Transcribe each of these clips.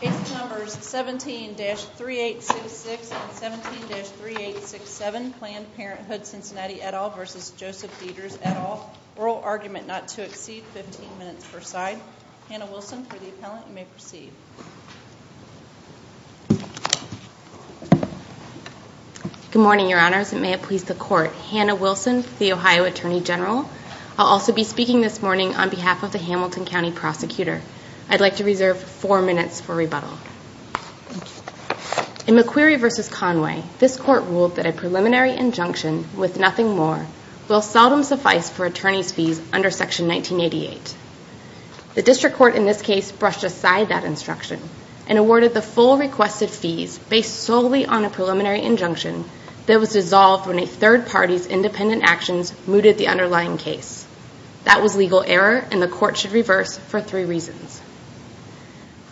Case numbers 17-3866 and 17-3867 Planned Parenthood Cincinnati et al. v. Joseph Deters et al. Rural argument not to exceed 15 minutes per side. Hannah Wilson, for the appellant, you may proceed. Good morning, your honors, and may it please the court. Hannah Wilson, the Ohio Attorney General. I'll also be speaking this morning on behalf of the Hamilton County Prosecutor. I'd like to reserve four minutes for rebuttal. In McQueary v. Conway, this court ruled that a preliminary injunction with nothing more will seldom suffice for attorney's fees under Section 1988. The district court in this case brushed aside that instruction and awarded the full requested fees based solely on a preliminary injunction that was dissolved when a third party's independent actions mooted the underlying case. That was legal error and the court should reverse for three reasons.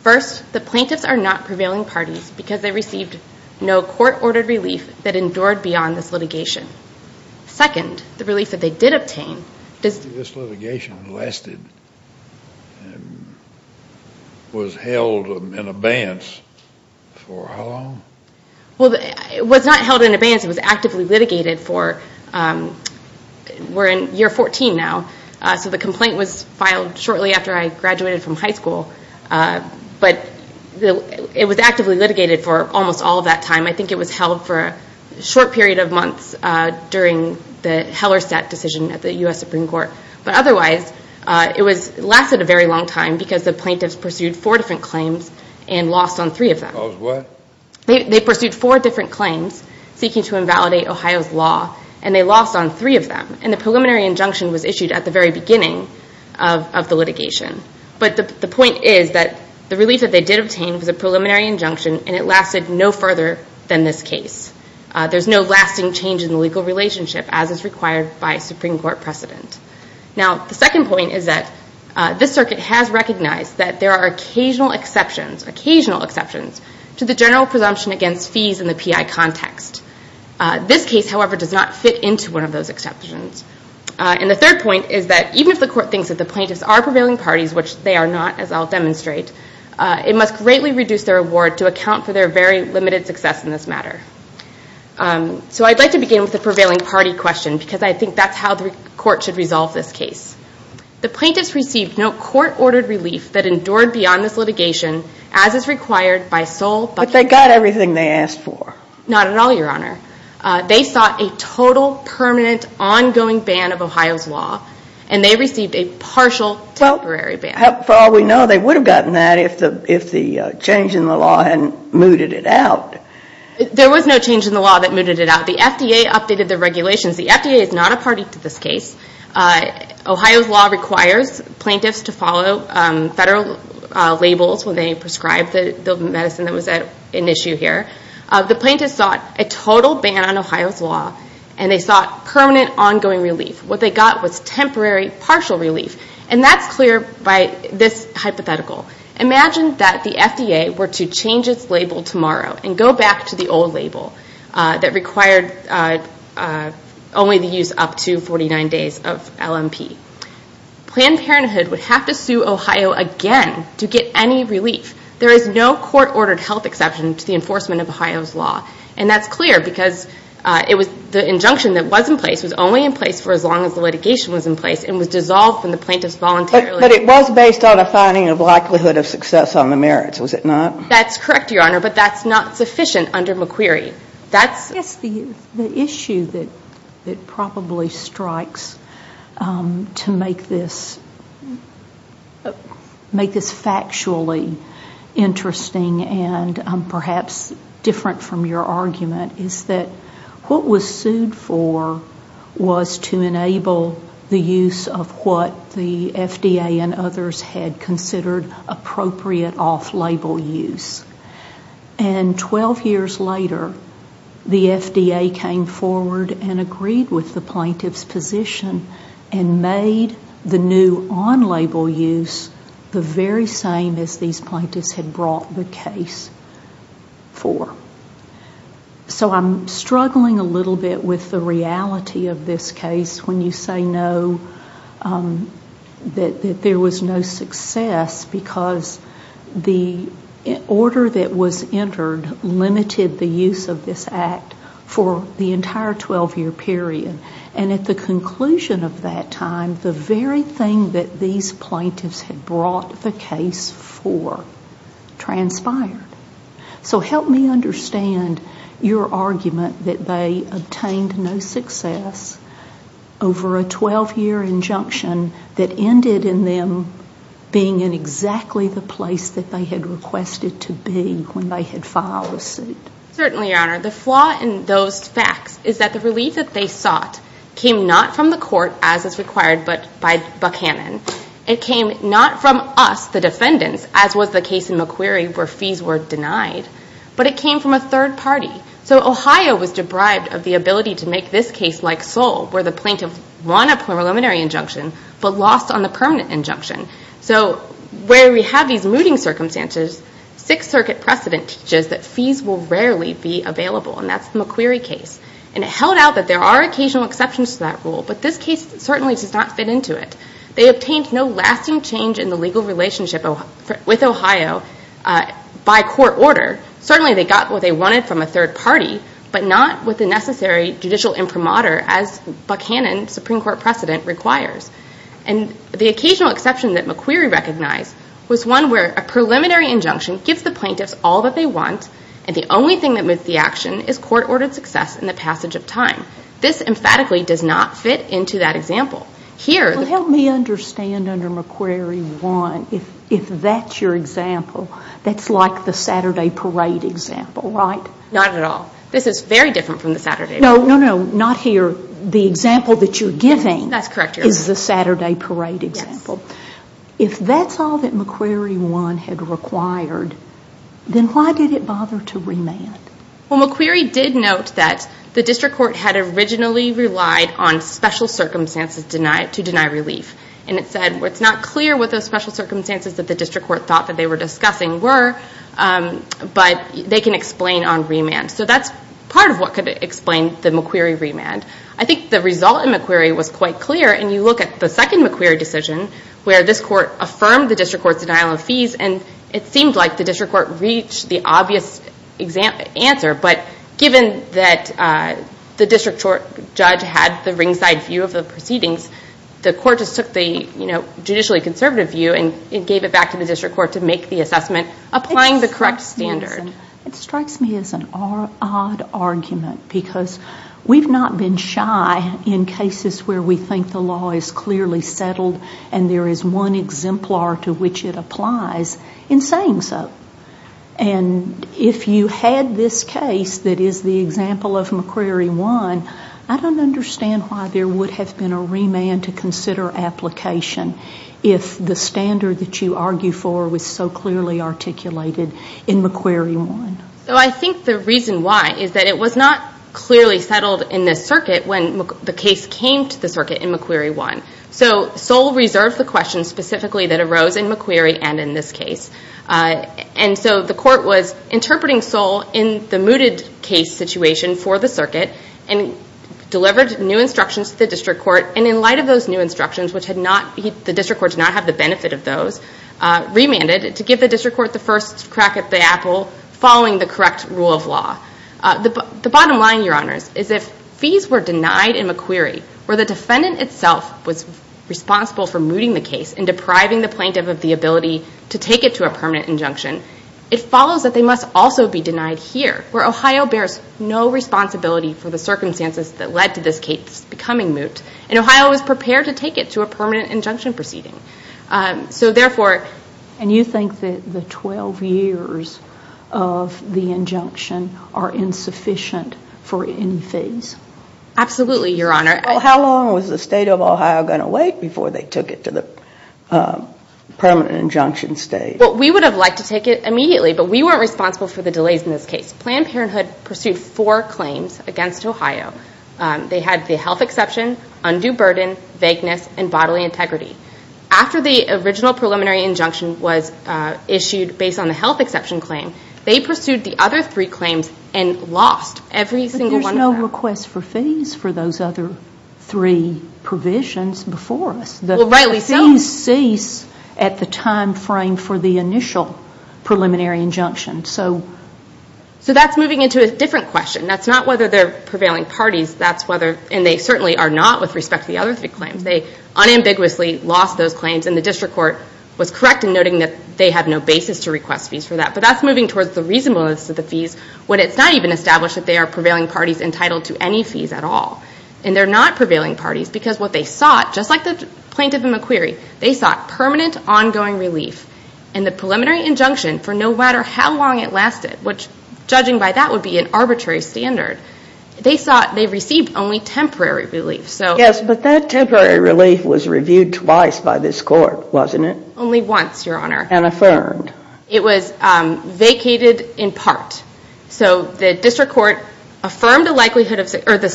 First, the plaintiffs are not prevailing parties because they received no court-ordered relief that endured beyond this litigation. Second, the relief that they did obtain... This litigation lasted and was held in abeyance for how long? It was not held in abeyance. It was actively litigated for... We're in year 14 now, so the complaint was filed shortly after I graduated from high school. But it was actively litigated for almost all of that time. I think it was held for a short period of months during the Hellerstadt decision at the U.S. Supreme Court. But otherwise, it lasted a very long time because the plaintiffs pursued four different claims and lost on three of them. They pursued four different claims seeking to invalidate Ohio's law, and they lost on three of them. And the preliminary injunction was issued at the very beginning of the litigation. But the point is that the relief that they did obtain was a preliminary injunction and it lasted no further than this case. There's no lasting change in the legal relationship as is required by Supreme Court precedent. Now, the second point is that this circuit has recognized that there are occasional exceptions, occasional exceptions, to the general presumption against fees in the PI context. This case, however, does not fit into one of those exceptions. And the third point is that even if the court thinks that the plaintiffs are prevailing parties, which they are not, as I'll demonstrate, it must greatly reduce their award to account for their very limited success in this matter. So I'd like to begin with the prevailing party question because I think that's how the court should resolve this case. The plaintiffs received no court-ordered relief that endured beyond this litigation, as is required by sole bucking. But they got everything they asked for. Not at all, Your Honor. They sought a total, permanent, ongoing ban of Ohio's law, and they received a partial, temporary ban. Well, for all we know, they would have gotten that if the change in the law hadn't mooted it out. There was no change in the law that mooted it out. The FDA updated the regulations. The FDA is not a party to this case. Ohio's law requires plaintiffs to follow federal labels when they prescribe the medicine that was at issue here. The plaintiffs sought a total ban on Ohio's law, and they sought permanent, ongoing relief. What they got was temporary, partial relief. And that's clear by this hypothetical. Imagine that the FDA were to change its label tomorrow and go back to the old label that required only the use up to 49 days of LMP. Planned Parenthood would have to sue Ohio again to get any relief. There is no court-ordered health exception to the enforcement of Ohio's law. And that's clear because the injunction that was in place was only in place for as long as the litigation was in place, and was dissolved when the plaintiffs voluntarily But it was based on a finding of likelihood of success on the merits, was it not? That's correct, Your Honor, but that's not sufficient under McQueary. Yes, the issue that probably strikes to make this factually interesting and perhaps different from your argument is that what was sued for was to enable the use of what the FDA and others had considered appropriate off-label use. And 12 years later, the FDA came forward and agreed with the plaintiffs' position and made the new on-label use the very same as these plaintiffs had brought the case for. So I'm struggling a little bit with the reality of this case when you say no, that there was no success because the order that was entered limited the use of this act for the entire 12-year period. And at the conclusion of that time, the very thing that these plaintiffs had brought the case for transpired. So help me understand your argument that they obtained no success over a 12-year injunction that ended in them being in exactly the place that they had requested to be when they had filed a suit. Certainly, Your Honor. The flaw in those facts is that the relief that they sought came not from the court as is required by Buchanan. It came not from us, the defendants, as was the case in McQueary where fees were denied, but it came from a third party. So Ohio was deprived of the ability to make this case like Seoul where the plaintiff won a preliminary injunction but lost on the permanent injunction. So where we have these mooting circumstances, Sixth Circuit precedent teaches that fees will rarely be available, and that's the McQueary case. And it held out that there are occasional exceptions to that rule, but this case certainly does not fit into it. They obtained no lasting change in the legal relationship with Ohio by court order. Certainly, they got what they wanted from a third party, but not with the necessary judicial imprimatur as Buchanan, Supreme Court precedent, requires. And the occasional exception that McQueary recognized was one where a preliminary injunction gives the plaintiffs all that they want, and the only thing that moved the action is court-ordered success in the passage of time. This emphatically does not fit into that example. Well, help me understand under McQueary 1, if that's your example, that's like the Saturday parade example, right? Not at all. This is very different from the Saturday parade. No, no, not here. The example that you're giving is the Saturday parade example. If that's all that McQueary 1 had required, then why did it bother to remand? Well, McQueary did note that the district court had originally relied on special circumstances to deny relief. And it said, well, it's not clear what those special circumstances that the district court thought that they were discussing were, but they can explain on remand. So that's part of what could explain the McQueary remand. I think the result in McQueary was quite clear, and you look at the second McQueary decision where this court affirmed the district court's denial of fees, and it seemed like the district court reached the obvious answer. But given that the district court judge had the ringside view of the proceedings, the court just took the judicially conservative view and gave it back to the district court to make the assessment, applying the correct standard. It strikes me as an odd argument because we've not been shy in cases where we think the law is clearly settled and there is one exemplar to which it applies in saying so. And if you had this case that is the example of McQueary 1, I don't understand why there would have been a remand to consider application if the standard that you argue for was so clearly articulated in McQueary 1. So I think the reason why is that it was not clearly settled in this circuit when the case came to the circuit in McQueary 1. So Sol reserved the question specifically that arose in McQueary and in this case. And so the court was interpreting Sol in the mooted case situation for the circuit and delivered new instructions to the district court, and in light of those new instructions, the district court did not have the benefit of those, remanded to give the district court the first crack at the apple following the correct rule of law. The bottom line, Your Honors, is if fees were denied in McQueary where the defendant itself was responsible for mooting the case and depriving the plaintiff of the ability to take it to a permanent injunction, it follows that they must also be denied here, where Ohio bears no responsibility for the circumstances that led to this case becoming moot, and Ohio was prepared to take it to a permanent injunction proceeding. So therefore... And you think that the 12 years of the injunction are insufficient for any fees? Absolutely, Your Honor. Well, how long was the State of Ohio going to wait before they took it to the permanent injunction stage? Well, we would have liked to take it immediately, but we weren't responsible for the delays in this case. Planned Parenthood pursued four claims against Ohio. They had the health exception, undue burden, vagueness, and bodily integrity. After the original preliminary injunction was issued based on the health exception claim, they pursued the other three claims and lost every single one of them. There was no request for fees for those other three provisions before us. Well, rightly so. The fees cease at the time frame for the initial preliminary injunction. So that's moving into a different question. That's not whether they're prevailing parties. And they certainly are not with respect to the other three claims. They unambiguously lost those claims, and the district court was correct in noting that they had no basis to request fees for that. But that's moving towards the reasonableness of the fees when it's not even established that they are prevailing parties entitled to any fees at all. And they're not prevailing parties because what they sought, just like the plaintiff in McQueary, they sought permanent, ongoing relief. And the preliminary injunction, for no matter how long it lasted, which, judging by that, would be an arbitrary standard, they received only temporary relief. Yes, but that temporary relief was reviewed twice by this court, wasn't it? Only once, Your Honor. And affirmed. It was vacated in part. So the district court affirmed the likelihood of success, or the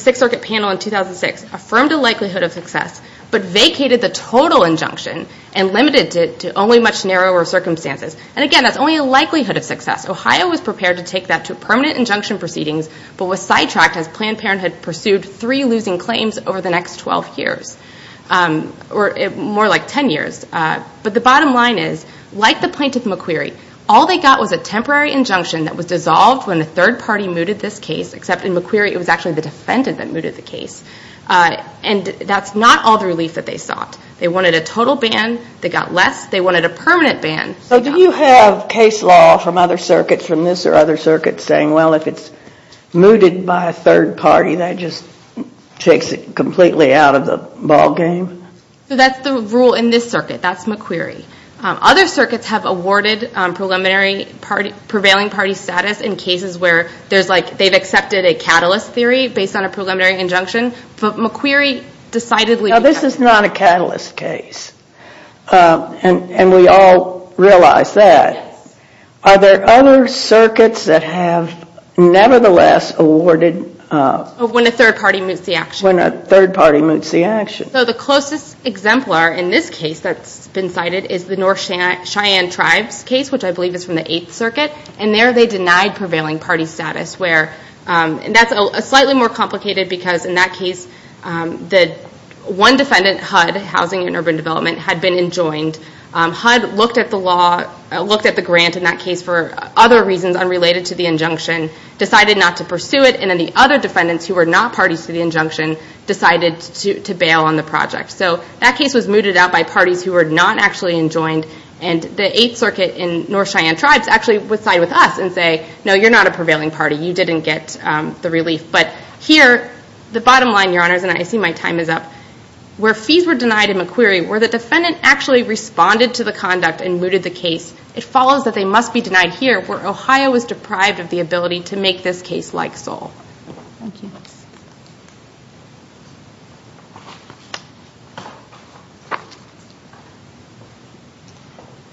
Sixth Circuit panel in 2006 affirmed the likelihood of success, but vacated the total injunction and limited it to only much narrower circumstances. And again, that's only a likelihood of success. Ohio was prepared to take that to permanent injunction proceedings, but was sidetracked as Planned Parenthood pursued three losing claims over the next 12 years, or more like 10 years. But the bottom line is, like the plaintiff in McQueary, all they got was a temporary injunction that was dissolved when the third party mooted this case, except in McQueary it was actually the defendant that mooted the case. And that's not all the relief that they sought. They wanted a total ban. They got less. They wanted a permanent ban. So do you have case law from other circuits, from this or other circuits, saying, well, if it's mooted by a third party, that just takes it completely out of the ballgame? That's the rule in this circuit. That's McQueary. Other circuits have awarded prevailing party status in cases where they've accepted a catalyst theory based on a preliminary injunction, but McQueary decidedly... Now, this is not a catalyst case, and we all realize that. Are there other circuits that have nevertheless awarded... When a third party moots the action. When a third party moots the action. So the closest exemplar in this case that's been cited is the North Cheyenne Tribes case, which I believe is from the Eighth Circuit, and there they denied prevailing party status. And that's slightly more complicated because in that case, one defendant, HUD, Housing and Urban Development, had been enjoined. HUD looked at the grant in that case for other reasons unrelated to the injunction, decided not to pursue it, and then the other defendants who were not parties to the injunction decided to bail on the project. So that case was mooted out by parties who were not actually enjoined, and the Eighth Circuit in North Cheyenne Tribes actually would side with us and say, no, you're not a prevailing party. You didn't get the relief. But here, the bottom line, Your Honors, and I see my time is up, where fees were denied in McQueary, where the defendant actually responded to the conduct and mooted the case, it follows that they must be denied here, where Ohio was deprived of the ability to make this case like SOLE. Thank you.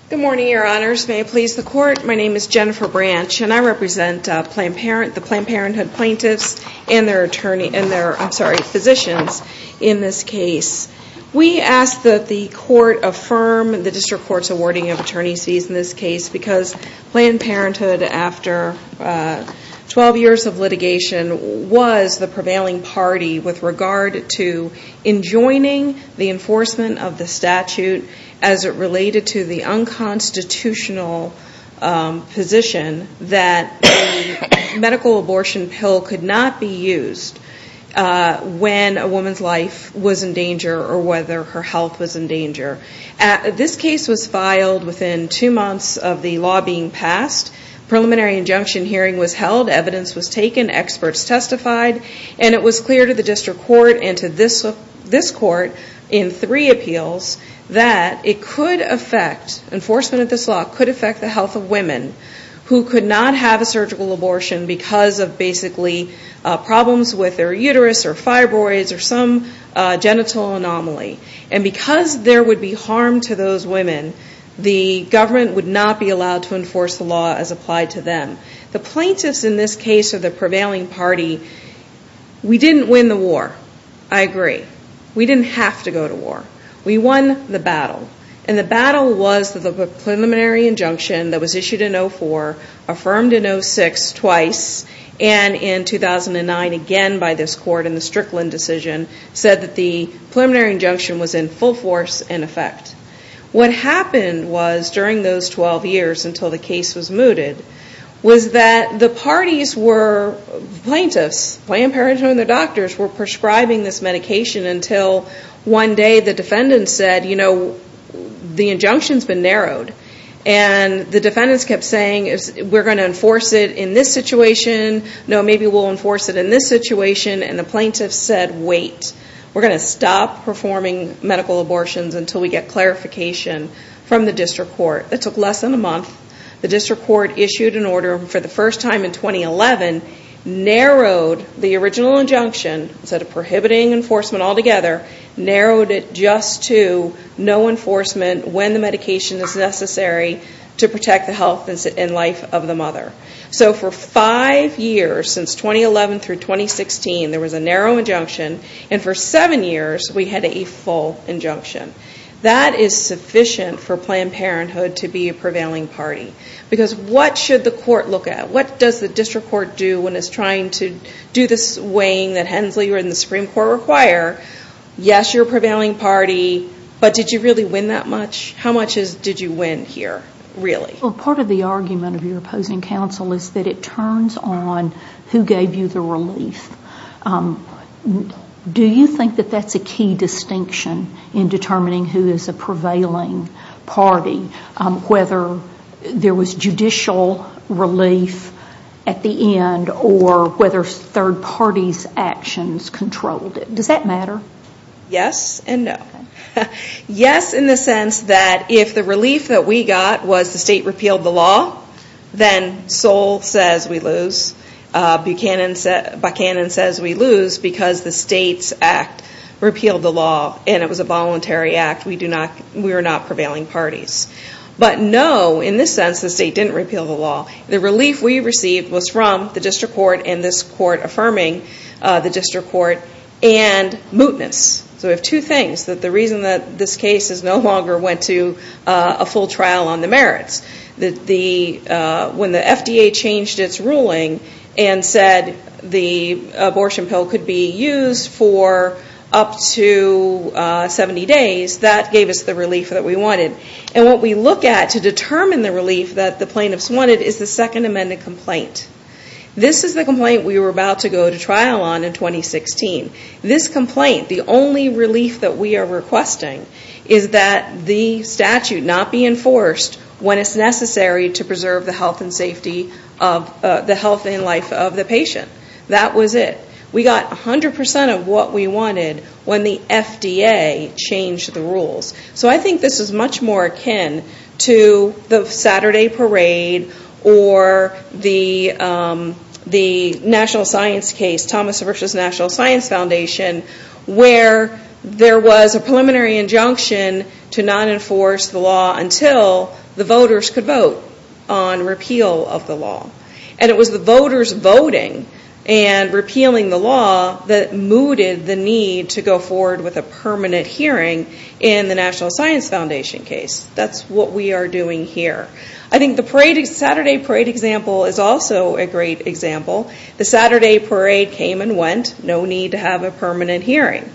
Good morning, Your Honors. May I please the court? My name is Jennifer Branch, and I represent the Planned Parenthood plaintiffs and their physicians in this case. We ask that the court affirm the District Court's awarding of attorney's fees in this case because Planned Parenthood, after 12 years of litigation, was the prevailing party with regard to enjoining the enforcement of the statute as it related to the unconstitutional position that a medical abortion pill could not be used when a woman's life was in danger or whether her health was in danger. This case was filed within two months of the law being passed. Preliminary injunction hearing was held. Evidence was taken. Experts testified. And it was clear to the District Court and to this court in three appeals that it could affect, enforcement of this law could affect the health of women who could not have a surgical abortion because of basically problems with their uterus or fibroids or some genital anomaly. And because there would be harm to those women, the government would not be allowed to enforce the law as applied to them. The plaintiffs in this case of the prevailing party, we didn't win the war. I agree. We didn't have to go to war. We won the battle. And the battle was that the preliminary injunction that was issued in 04, affirmed in 06 twice, and in 2009 again by this court in the Strickland decision, said that the preliminary injunction was in full force and effect. What happened was during those 12 years until the case was mooted was that the parties were plaintiffs, Planned Parenthood and their doctors were prescribing this medication until one day the defendants said, you know, the injunction's been narrowed. And the defendants kept saying, we're going to enforce it in this situation. No, maybe we'll enforce it in this situation. And the plaintiffs said, wait, we're going to stop performing medical abortions until we get clarification from the district court. It took less than a month. The district court issued an order for the first time in 2011, narrowed the original injunction, instead of prohibiting enforcement altogether, narrowed it just to no enforcement when the medication is necessary to protect the health and life of the mother. So for five years, since 2011 through 2016, there was a narrow injunction, and for seven years we had a full injunction. That is sufficient for Planned Parenthood to be a prevailing party. Because what should the court look at? What does the district court do when it's trying to do this weighing that Hensley or the Supreme Court require? Yes, you're a prevailing party, but did you really win that much? How much did you win here, really? Well, part of the argument of your opposing counsel is that it turns on who gave you the relief. Do you think that that's a key distinction in determining who is a prevailing party, whether there was judicial relief at the end or whether third parties' actions controlled it? Does that matter? Yes and no. Yes in the sense that if the relief that we got was the state repealed the law, then Soll says we lose. Buchanan says we lose because the state's act repealed the law and it was a voluntary act. We were not prevailing parties. But no, in this sense, the state didn't repeal the law. The relief we received was from the district court and this court affirming the district court and mootness. So we have two things. The reason that this case no longer went to a full trial on the merits. When the FDA changed its ruling and said the abortion pill could be used for up to 70 days, that gave us the relief that we wanted. And what we look at to determine the relief that the plaintiffs wanted is the second amended complaint. This is the complaint we were about to go to trial on in 2016. This complaint, the only relief that we are requesting, is that the statute not be enforced when it's necessary to preserve the health and safety of the health and life of the patient. That was it. We got 100% of what we wanted when the FDA changed the rules. So I think this is much more akin to the Saturday parade or the national science case, Thomas versus National Science Foundation, where there was a preliminary injunction to not enforce the law until the voters could vote on repeal of the law. And it was the voters voting and repealing the law that mooted the need to go forward with a permanent hearing in the National Science Foundation case. That's what we are doing here. I think the Saturday parade example is also a great example. The Saturday parade came and went. No need to have a permanent hearing.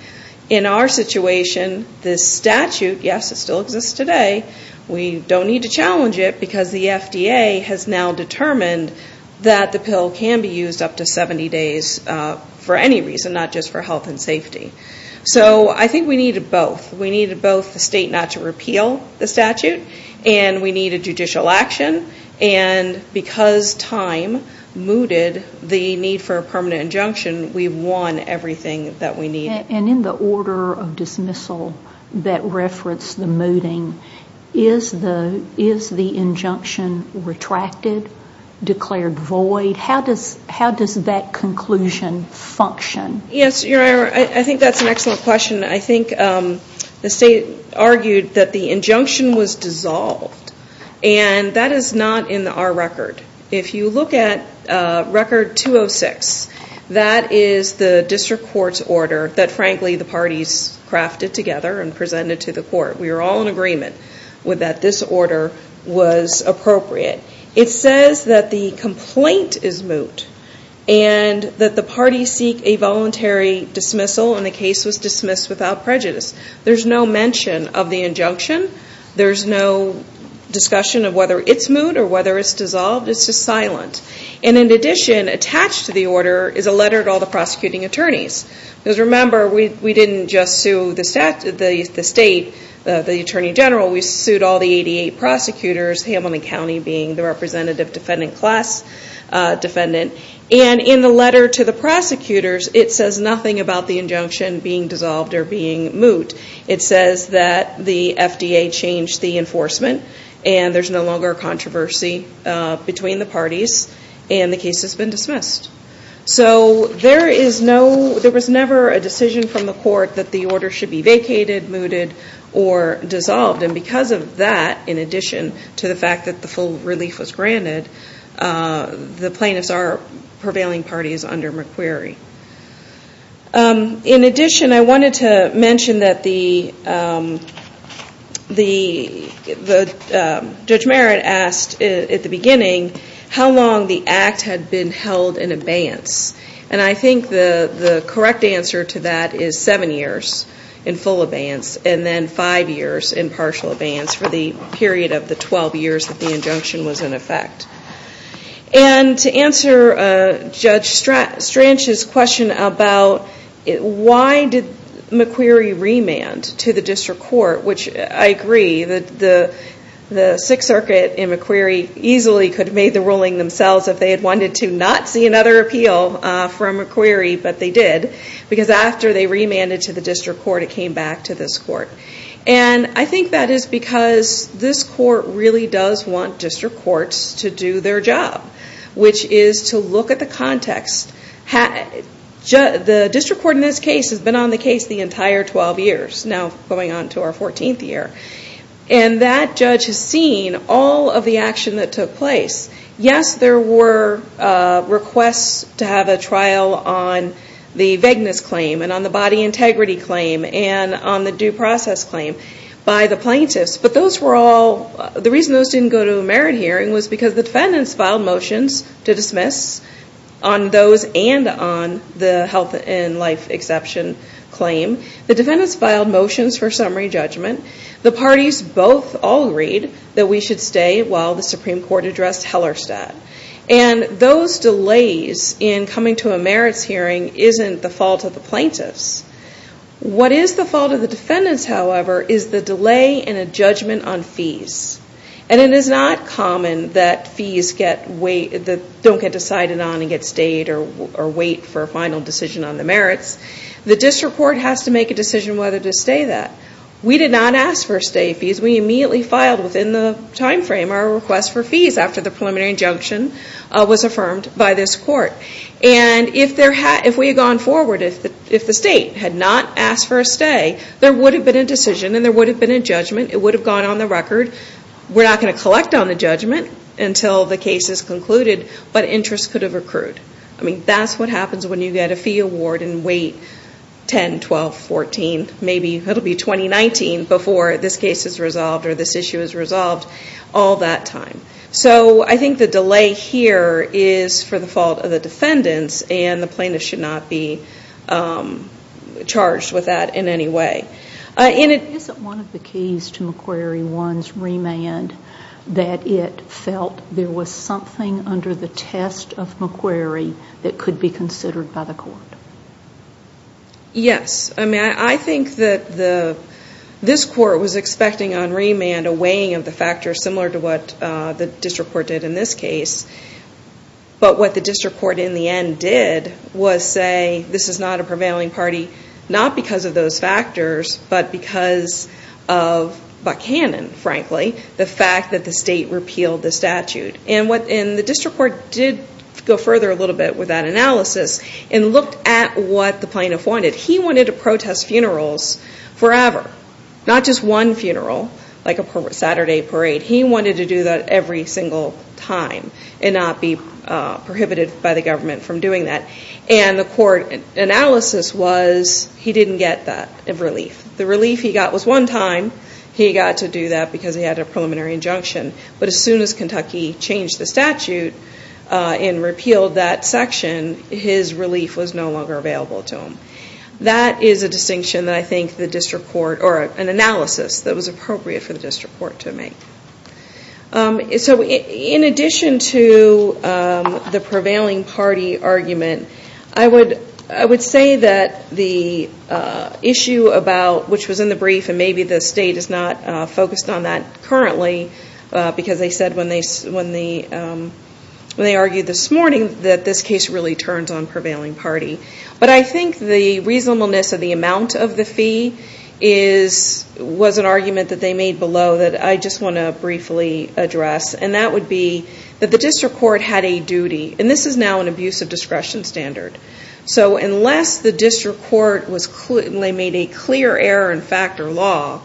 In our situation, this statute, yes, it still exists today. We don't need to challenge it because the FDA has now determined that the pill can be used up to 70 days for any reason, not just for health and safety. So I think we needed both. We needed both the state not to repeal the statute and we needed judicial action. And because time mooted the need for a permanent injunction, we won everything that we needed. And in the order of dismissal that referenced the mooting, is the injunction retracted, declared void? How does that conclusion function? Yes, I think that's an excellent question. I think the state argued that the injunction was dissolved and that is not in our record. If you look at Record 206, that is the district court's order that, frankly, the parties crafted together and presented to the court. We were all in agreement with that this order was appropriate. It says that the complaint is moot and that the parties seek a voluntary dismissal and the case was dismissed without prejudice. There's no mention of the injunction. There's no discussion of whether it's moot or whether it's dissolved. It's just silent. And in addition, attached to the order is a letter to all the prosecuting attorneys. Because remember, we didn't just sue the state, the Attorney General. We sued all the 88 prosecutors, Hamilton County being the representative defendant class defendant. And in the letter to the prosecutors, it says nothing about the injunction being dissolved or being moot. It says that the FDA changed the enforcement and there's no longer a controversy between the parties and the case has been dismissed. So there was never a decision from the court that the order should be vacated, mooted, or dissolved. And because of that, in addition to the fact that the full relief was granted, the plaintiffs are prevailing parties under McQuarrie. In addition, I wanted to mention that Judge Merritt asked at the beginning how long the act had been held in abeyance. And I think the correct answer to that is seven years in full abeyance and then five years in partial abeyance for the period of the 12 years that the injunction was in effect. And to answer Judge Strach's question about why did McQuarrie remand to the district court, which I agree that the Sixth Circuit and McQuarrie easily could have made the ruling themselves if they had wanted to not see another appeal from McQuarrie, but they did because after they remanded to the district court, it came back to this court. And I think that is because this court really does want district courts to do their job, which is to look at the context. The district court in this case has been on the case the entire 12 years, now going on to our 14th year. And that judge has seen all of the action that took place. Yes, there were requests to have a trial on the vagueness claim and on the body integrity claim and on the due process claim by the plaintiffs, but the reason those didn't go to a merit hearing was because the defendants filed motions to dismiss on those and on the health and life exception claim. The defendants filed motions for summary judgment. The parties both all agreed that we should stay while the Supreme Court addressed Hellerstadt. And those delays in coming to a merits hearing isn't the fault of the plaintiffs. What is the fault of the defendants, however, is the delay in a judgment on fees. And it is not common that fees don't get decided on and get stayed or wait for a final decision on the merits. The district court has to make a decision whether to stay that. We did not ask for stay fees. We immediately filed within the time frame our request for fees after the preliminary injunction was affirmed by this court. And if we had gone forward, if the state had not asked for a stay, there would have been a decision and there would have been a judgment. It would have gone on the record. We're not going to collect on the judgment until the case is concluded, but interest could have accrued. I mean, that's what happens when you get a fee award and wait 10, 12, 14, maybe it'll be 2019 before this case is resolved or this issue is resolved all that time. So I think the delay here is for the fault of the defendants and the plaintiff should not be charged with that in any way. Isn't one of the keys to McQuarrie 1's remand that it felt there was something under the test of McQuarrie that could be considered by the court? Yes. I mean, I think that this court was expecting on remand a weighing of the factors similar to what the district court did in this case. But what the district court in the end did was say, this is not a prevailing party, not because of those factors, but because of Buchanan, frankly, the fact that the state repealed the statute. And the district court did go further a little bit with that analysis and looked at what the plaintiff wanted. He wanted to protest funerals forever, not just one funeral, like a Saturday parade. He wanted to do that every single time. And not be prohibited by the government from doing that. And the court analysis was he didn't get that relief. The relief he got was one time. He got to do that because he had a preliminary injunction. But as soon as Kentucky changed the statute and repealed that section, his relief was no longer available to him. That is a distinction that I think the district court, or an analysis that was appropriate for the district court to make. So in addition to the prevailing party argument, I would say that the issue about, which was in the brief, and maybe the state is not focused on that currently, because they said when they argued this morning that this case really turns on prevailing party. But I think the reasonableness of the amount of the fee was an argument that they made below that I just want to briefly address. And that would be that the district court had a duty. And this is now an abuse of discretion standard. So unless the district court made a clear error in factor law,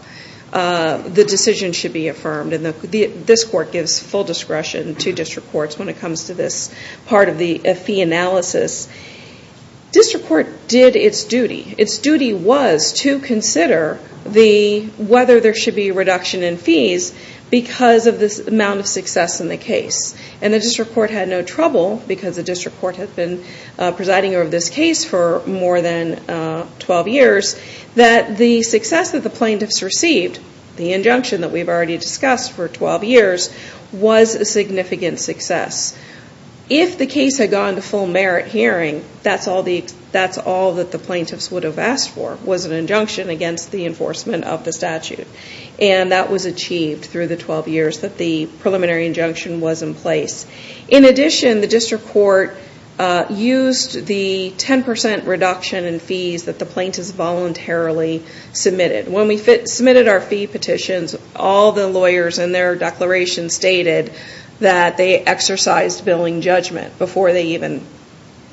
the decision should be affirmed. And this court gives full discretion to district courts when it comes to this part of the fee analysis. District court did its duty. Its duty was to consider whether there should be a reduction in fees because of this amount of success in the case. And the district court had no trouble, because the district court had been presiding over this case for more than 12 years, that the success that the plaintiffs received, the injunction that we've already discussed for 12 years, was a significant success. If the case had gone to full merit hearing, that's all that the plaintiffs would have asked for, was an injunction against the enforcement of the statute. And that was achieved through the 12 years that the preliminary injunction was in place. In addition, the district court used the 10% reduction in fees that the plaintiffs voluntarily submitted. When we submitted our fee petitions, all the lawyers in their declaration stated that they exercised billing judgment before they even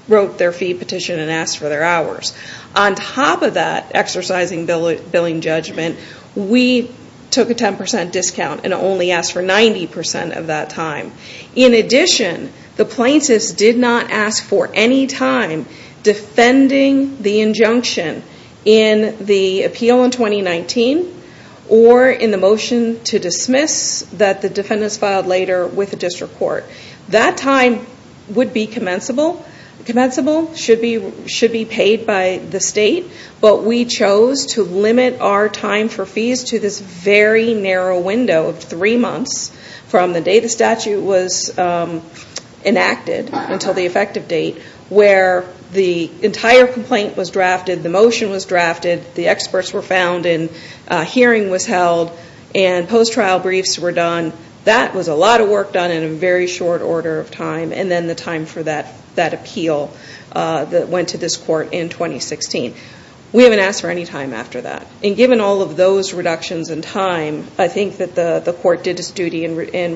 wrote their fee petition and asked for their hours. On top of that exercising billing judgment, we took a 10% discount and only asked for 90% of that time. In addition, the plaintiffs did not ask for any time defending the injunction in the appeal in 2019 or in the motion to dismiss that the defendants filed later with the district court. That time would be commensable. It should be paid by the state. But we chose to limit our time for fees to this very narrow window of three months from the day the statute was enacted until the effective date, where the entire complaint was drafted, the motion was drafted, the experts were found and a hearing was held, and post-trial briefs were done. That was a lot of work done in a very short order of time, and then the time for that appeal that went to this court in 2016. We haven't asked for any time after that. And given all of those reductions in time, I think that the court did its duty in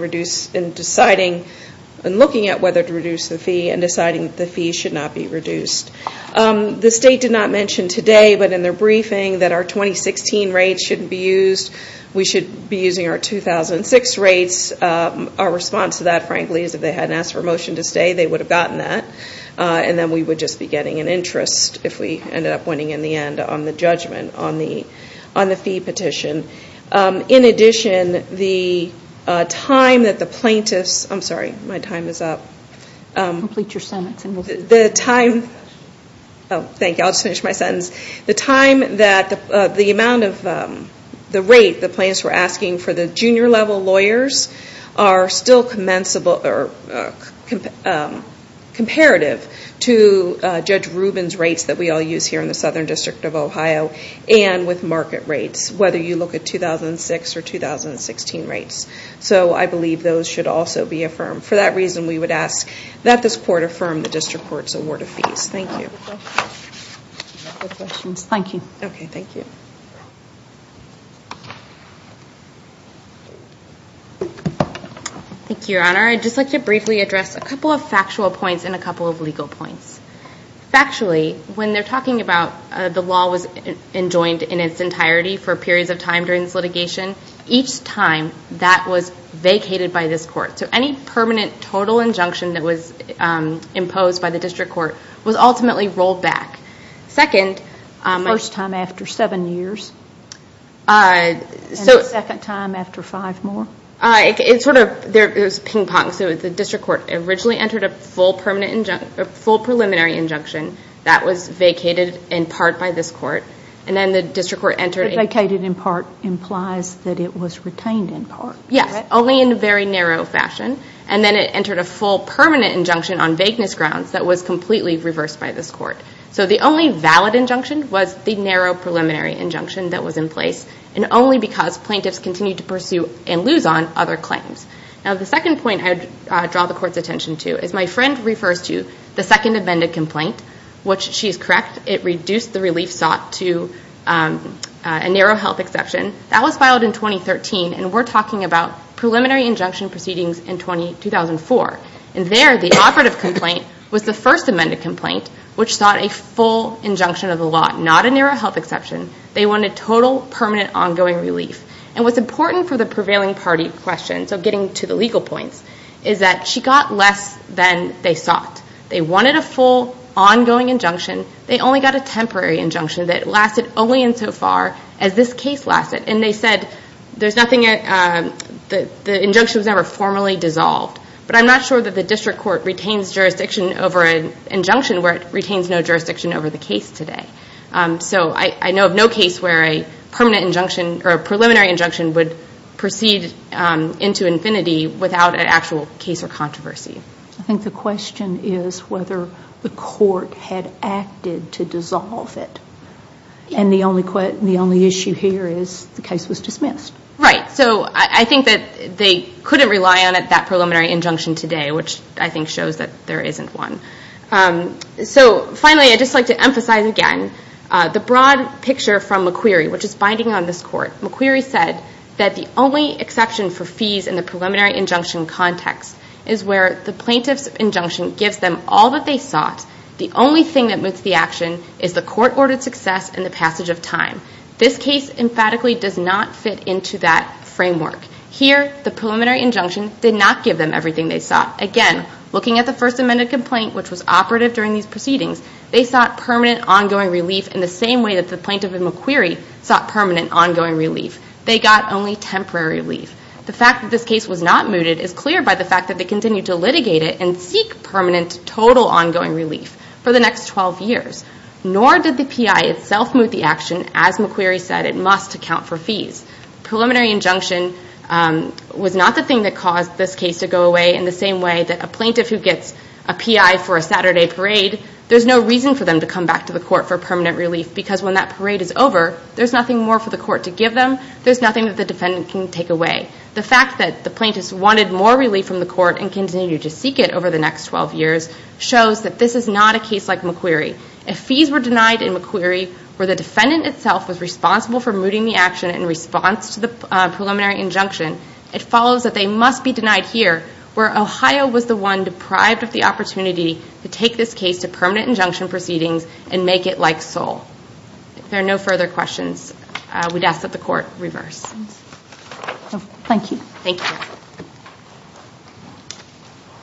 looking at whether to reduce the fee and deciding that the fee should not be reduced. The state did not mention today, but in their briefing, that our 2016 rates shouldn't be used. We should be using our 2006 rates. Our response to that, frankly, is if they hadn't asked for a motion to stay, they would have gotten that, and then we would just be getting an interest if we ended up winning in the end on the judgment, on the fee petition. In addition, the time that the plaintiffs... I'm sorry, my time is up. Complete your sentence. The time... Oh, thank you, I'll just finish my sentence. The time that the amount of... the rate the plaintiffs were asking for the junior-level lawyers are still comparative to Judge Rubin's rates that we all use here in the Southern District of Ohio and with market rates, whether you look at 2006 or 2016 rates. So I believe those should also be affirmed. For that reason, we would ask that this court affirm the district court's award of fees. Thank you. Any other questions? No questions. Thank you. Okay, thank you. Thank you, Your Honor. I'd just like to briefly address a couple of factual points and a couple of legal points. Factually, when they're talking about the law was enjoined in its entirety for periods of time during this litigation, each time that was vacated by this court. So any permanent total injunction that was imposed by the district court was ultimately rolled back. Second... First time after seven years. And the second time after five more? It sort of... It was ping-pong. So the district court originally entered a full preliminary injunction that was vacated in part by this court. And then the district court entered... Vacated in part implies that it was retained in part. Yes, only in a very narrow fashion. And then it entered a full permanent injunction on vagueness grounds that was completely reversed by this court. So the only valid injunction was the narrow preliminary injunction that was in place. And only because plaintiffs continued to pursue and lose on other claims. Now the second point I would draw the court's attention to is my friend refers to the second amended complaint. Which, she is correct, it reduced the relief sought to a narrow health exception. That was filed in 2013 and we're talking about preliminary injunction proceedings in 2004. And there, the operative complaint was the first amended complaint which sought a full injunction of the law. Not a narrow health exception. They wanted total, permanent, ongoing relief. And what's important for the prevailing party question, so getting to the legal points, is that she got less than they sought. They wanted a full, ongoing injunction. They only got a temporary injunction that lasted only insofar as this case lasted. And they said, there's nothing... The injunction was never formally dissolved. But I'm not sure that the district court retains jurisdiction over an injunction where it retains no jurisdiction over the case today. So, I know of no case where a permanent injunction, or a preliminary injunction, would proceed into infinity without an actual case or controversy. I think the question is whether the court had acted to dissolve it. And the only issue here is the case was dismissed. Right. So, I think that they couldn't rely on it, that preliminary injunction today, which I think shows that there isn't one. So, finally, I'd just like to emphasize again the broad picture from McQueary, which is binding on this court. McQueary said that the only exception for fees in the preliminary injunction context is where the plaintiff's injunction gives them all that they sought. The only thing that moves the action is the court-ordered success and the passage of time. This case emphatically does not fit into that framework. Here, the preliminary injunction did not give them everything they sought. Again, looking at the First Amendment complaint, which was operative during these proceedings, they sought permanent, ongoing relief in the same way that the plaintiff in McQueary sought permanent, ongoing relief. They got only temporary relief. The fact that this case was not mooted is clear by the fact that they continued to litigate it and seek permanent, total, ongoing relief for the next 12 years. Nor did the PI itself moot the action. As McQueary said, it must account for fees. Preliminary injunction was not the thing that caused this case to go away in the same way that a plaintiff who gets a PI for a Saturday parade, there's no reason for them to come back to the court for permanent relief because when that parade is over, there's nothing more for the court to give them. There's nothing that the defendant can take away. The fact that the plaintiffs wanted more relief from the court and continued to seek it over the next 12 years shows that this is not a case like McQueary. If fees were denied in McQueary where the defendant itself was responsible for mooting the action in response to the preliminary injunction, it follows that they must be denied here, where Ohio was the one deprived of the opportunity to take this case to permanent injunction proceedings and make it like Seoul. If there are no further questions, we'd ask that the court reverse. Thank you. Thank you.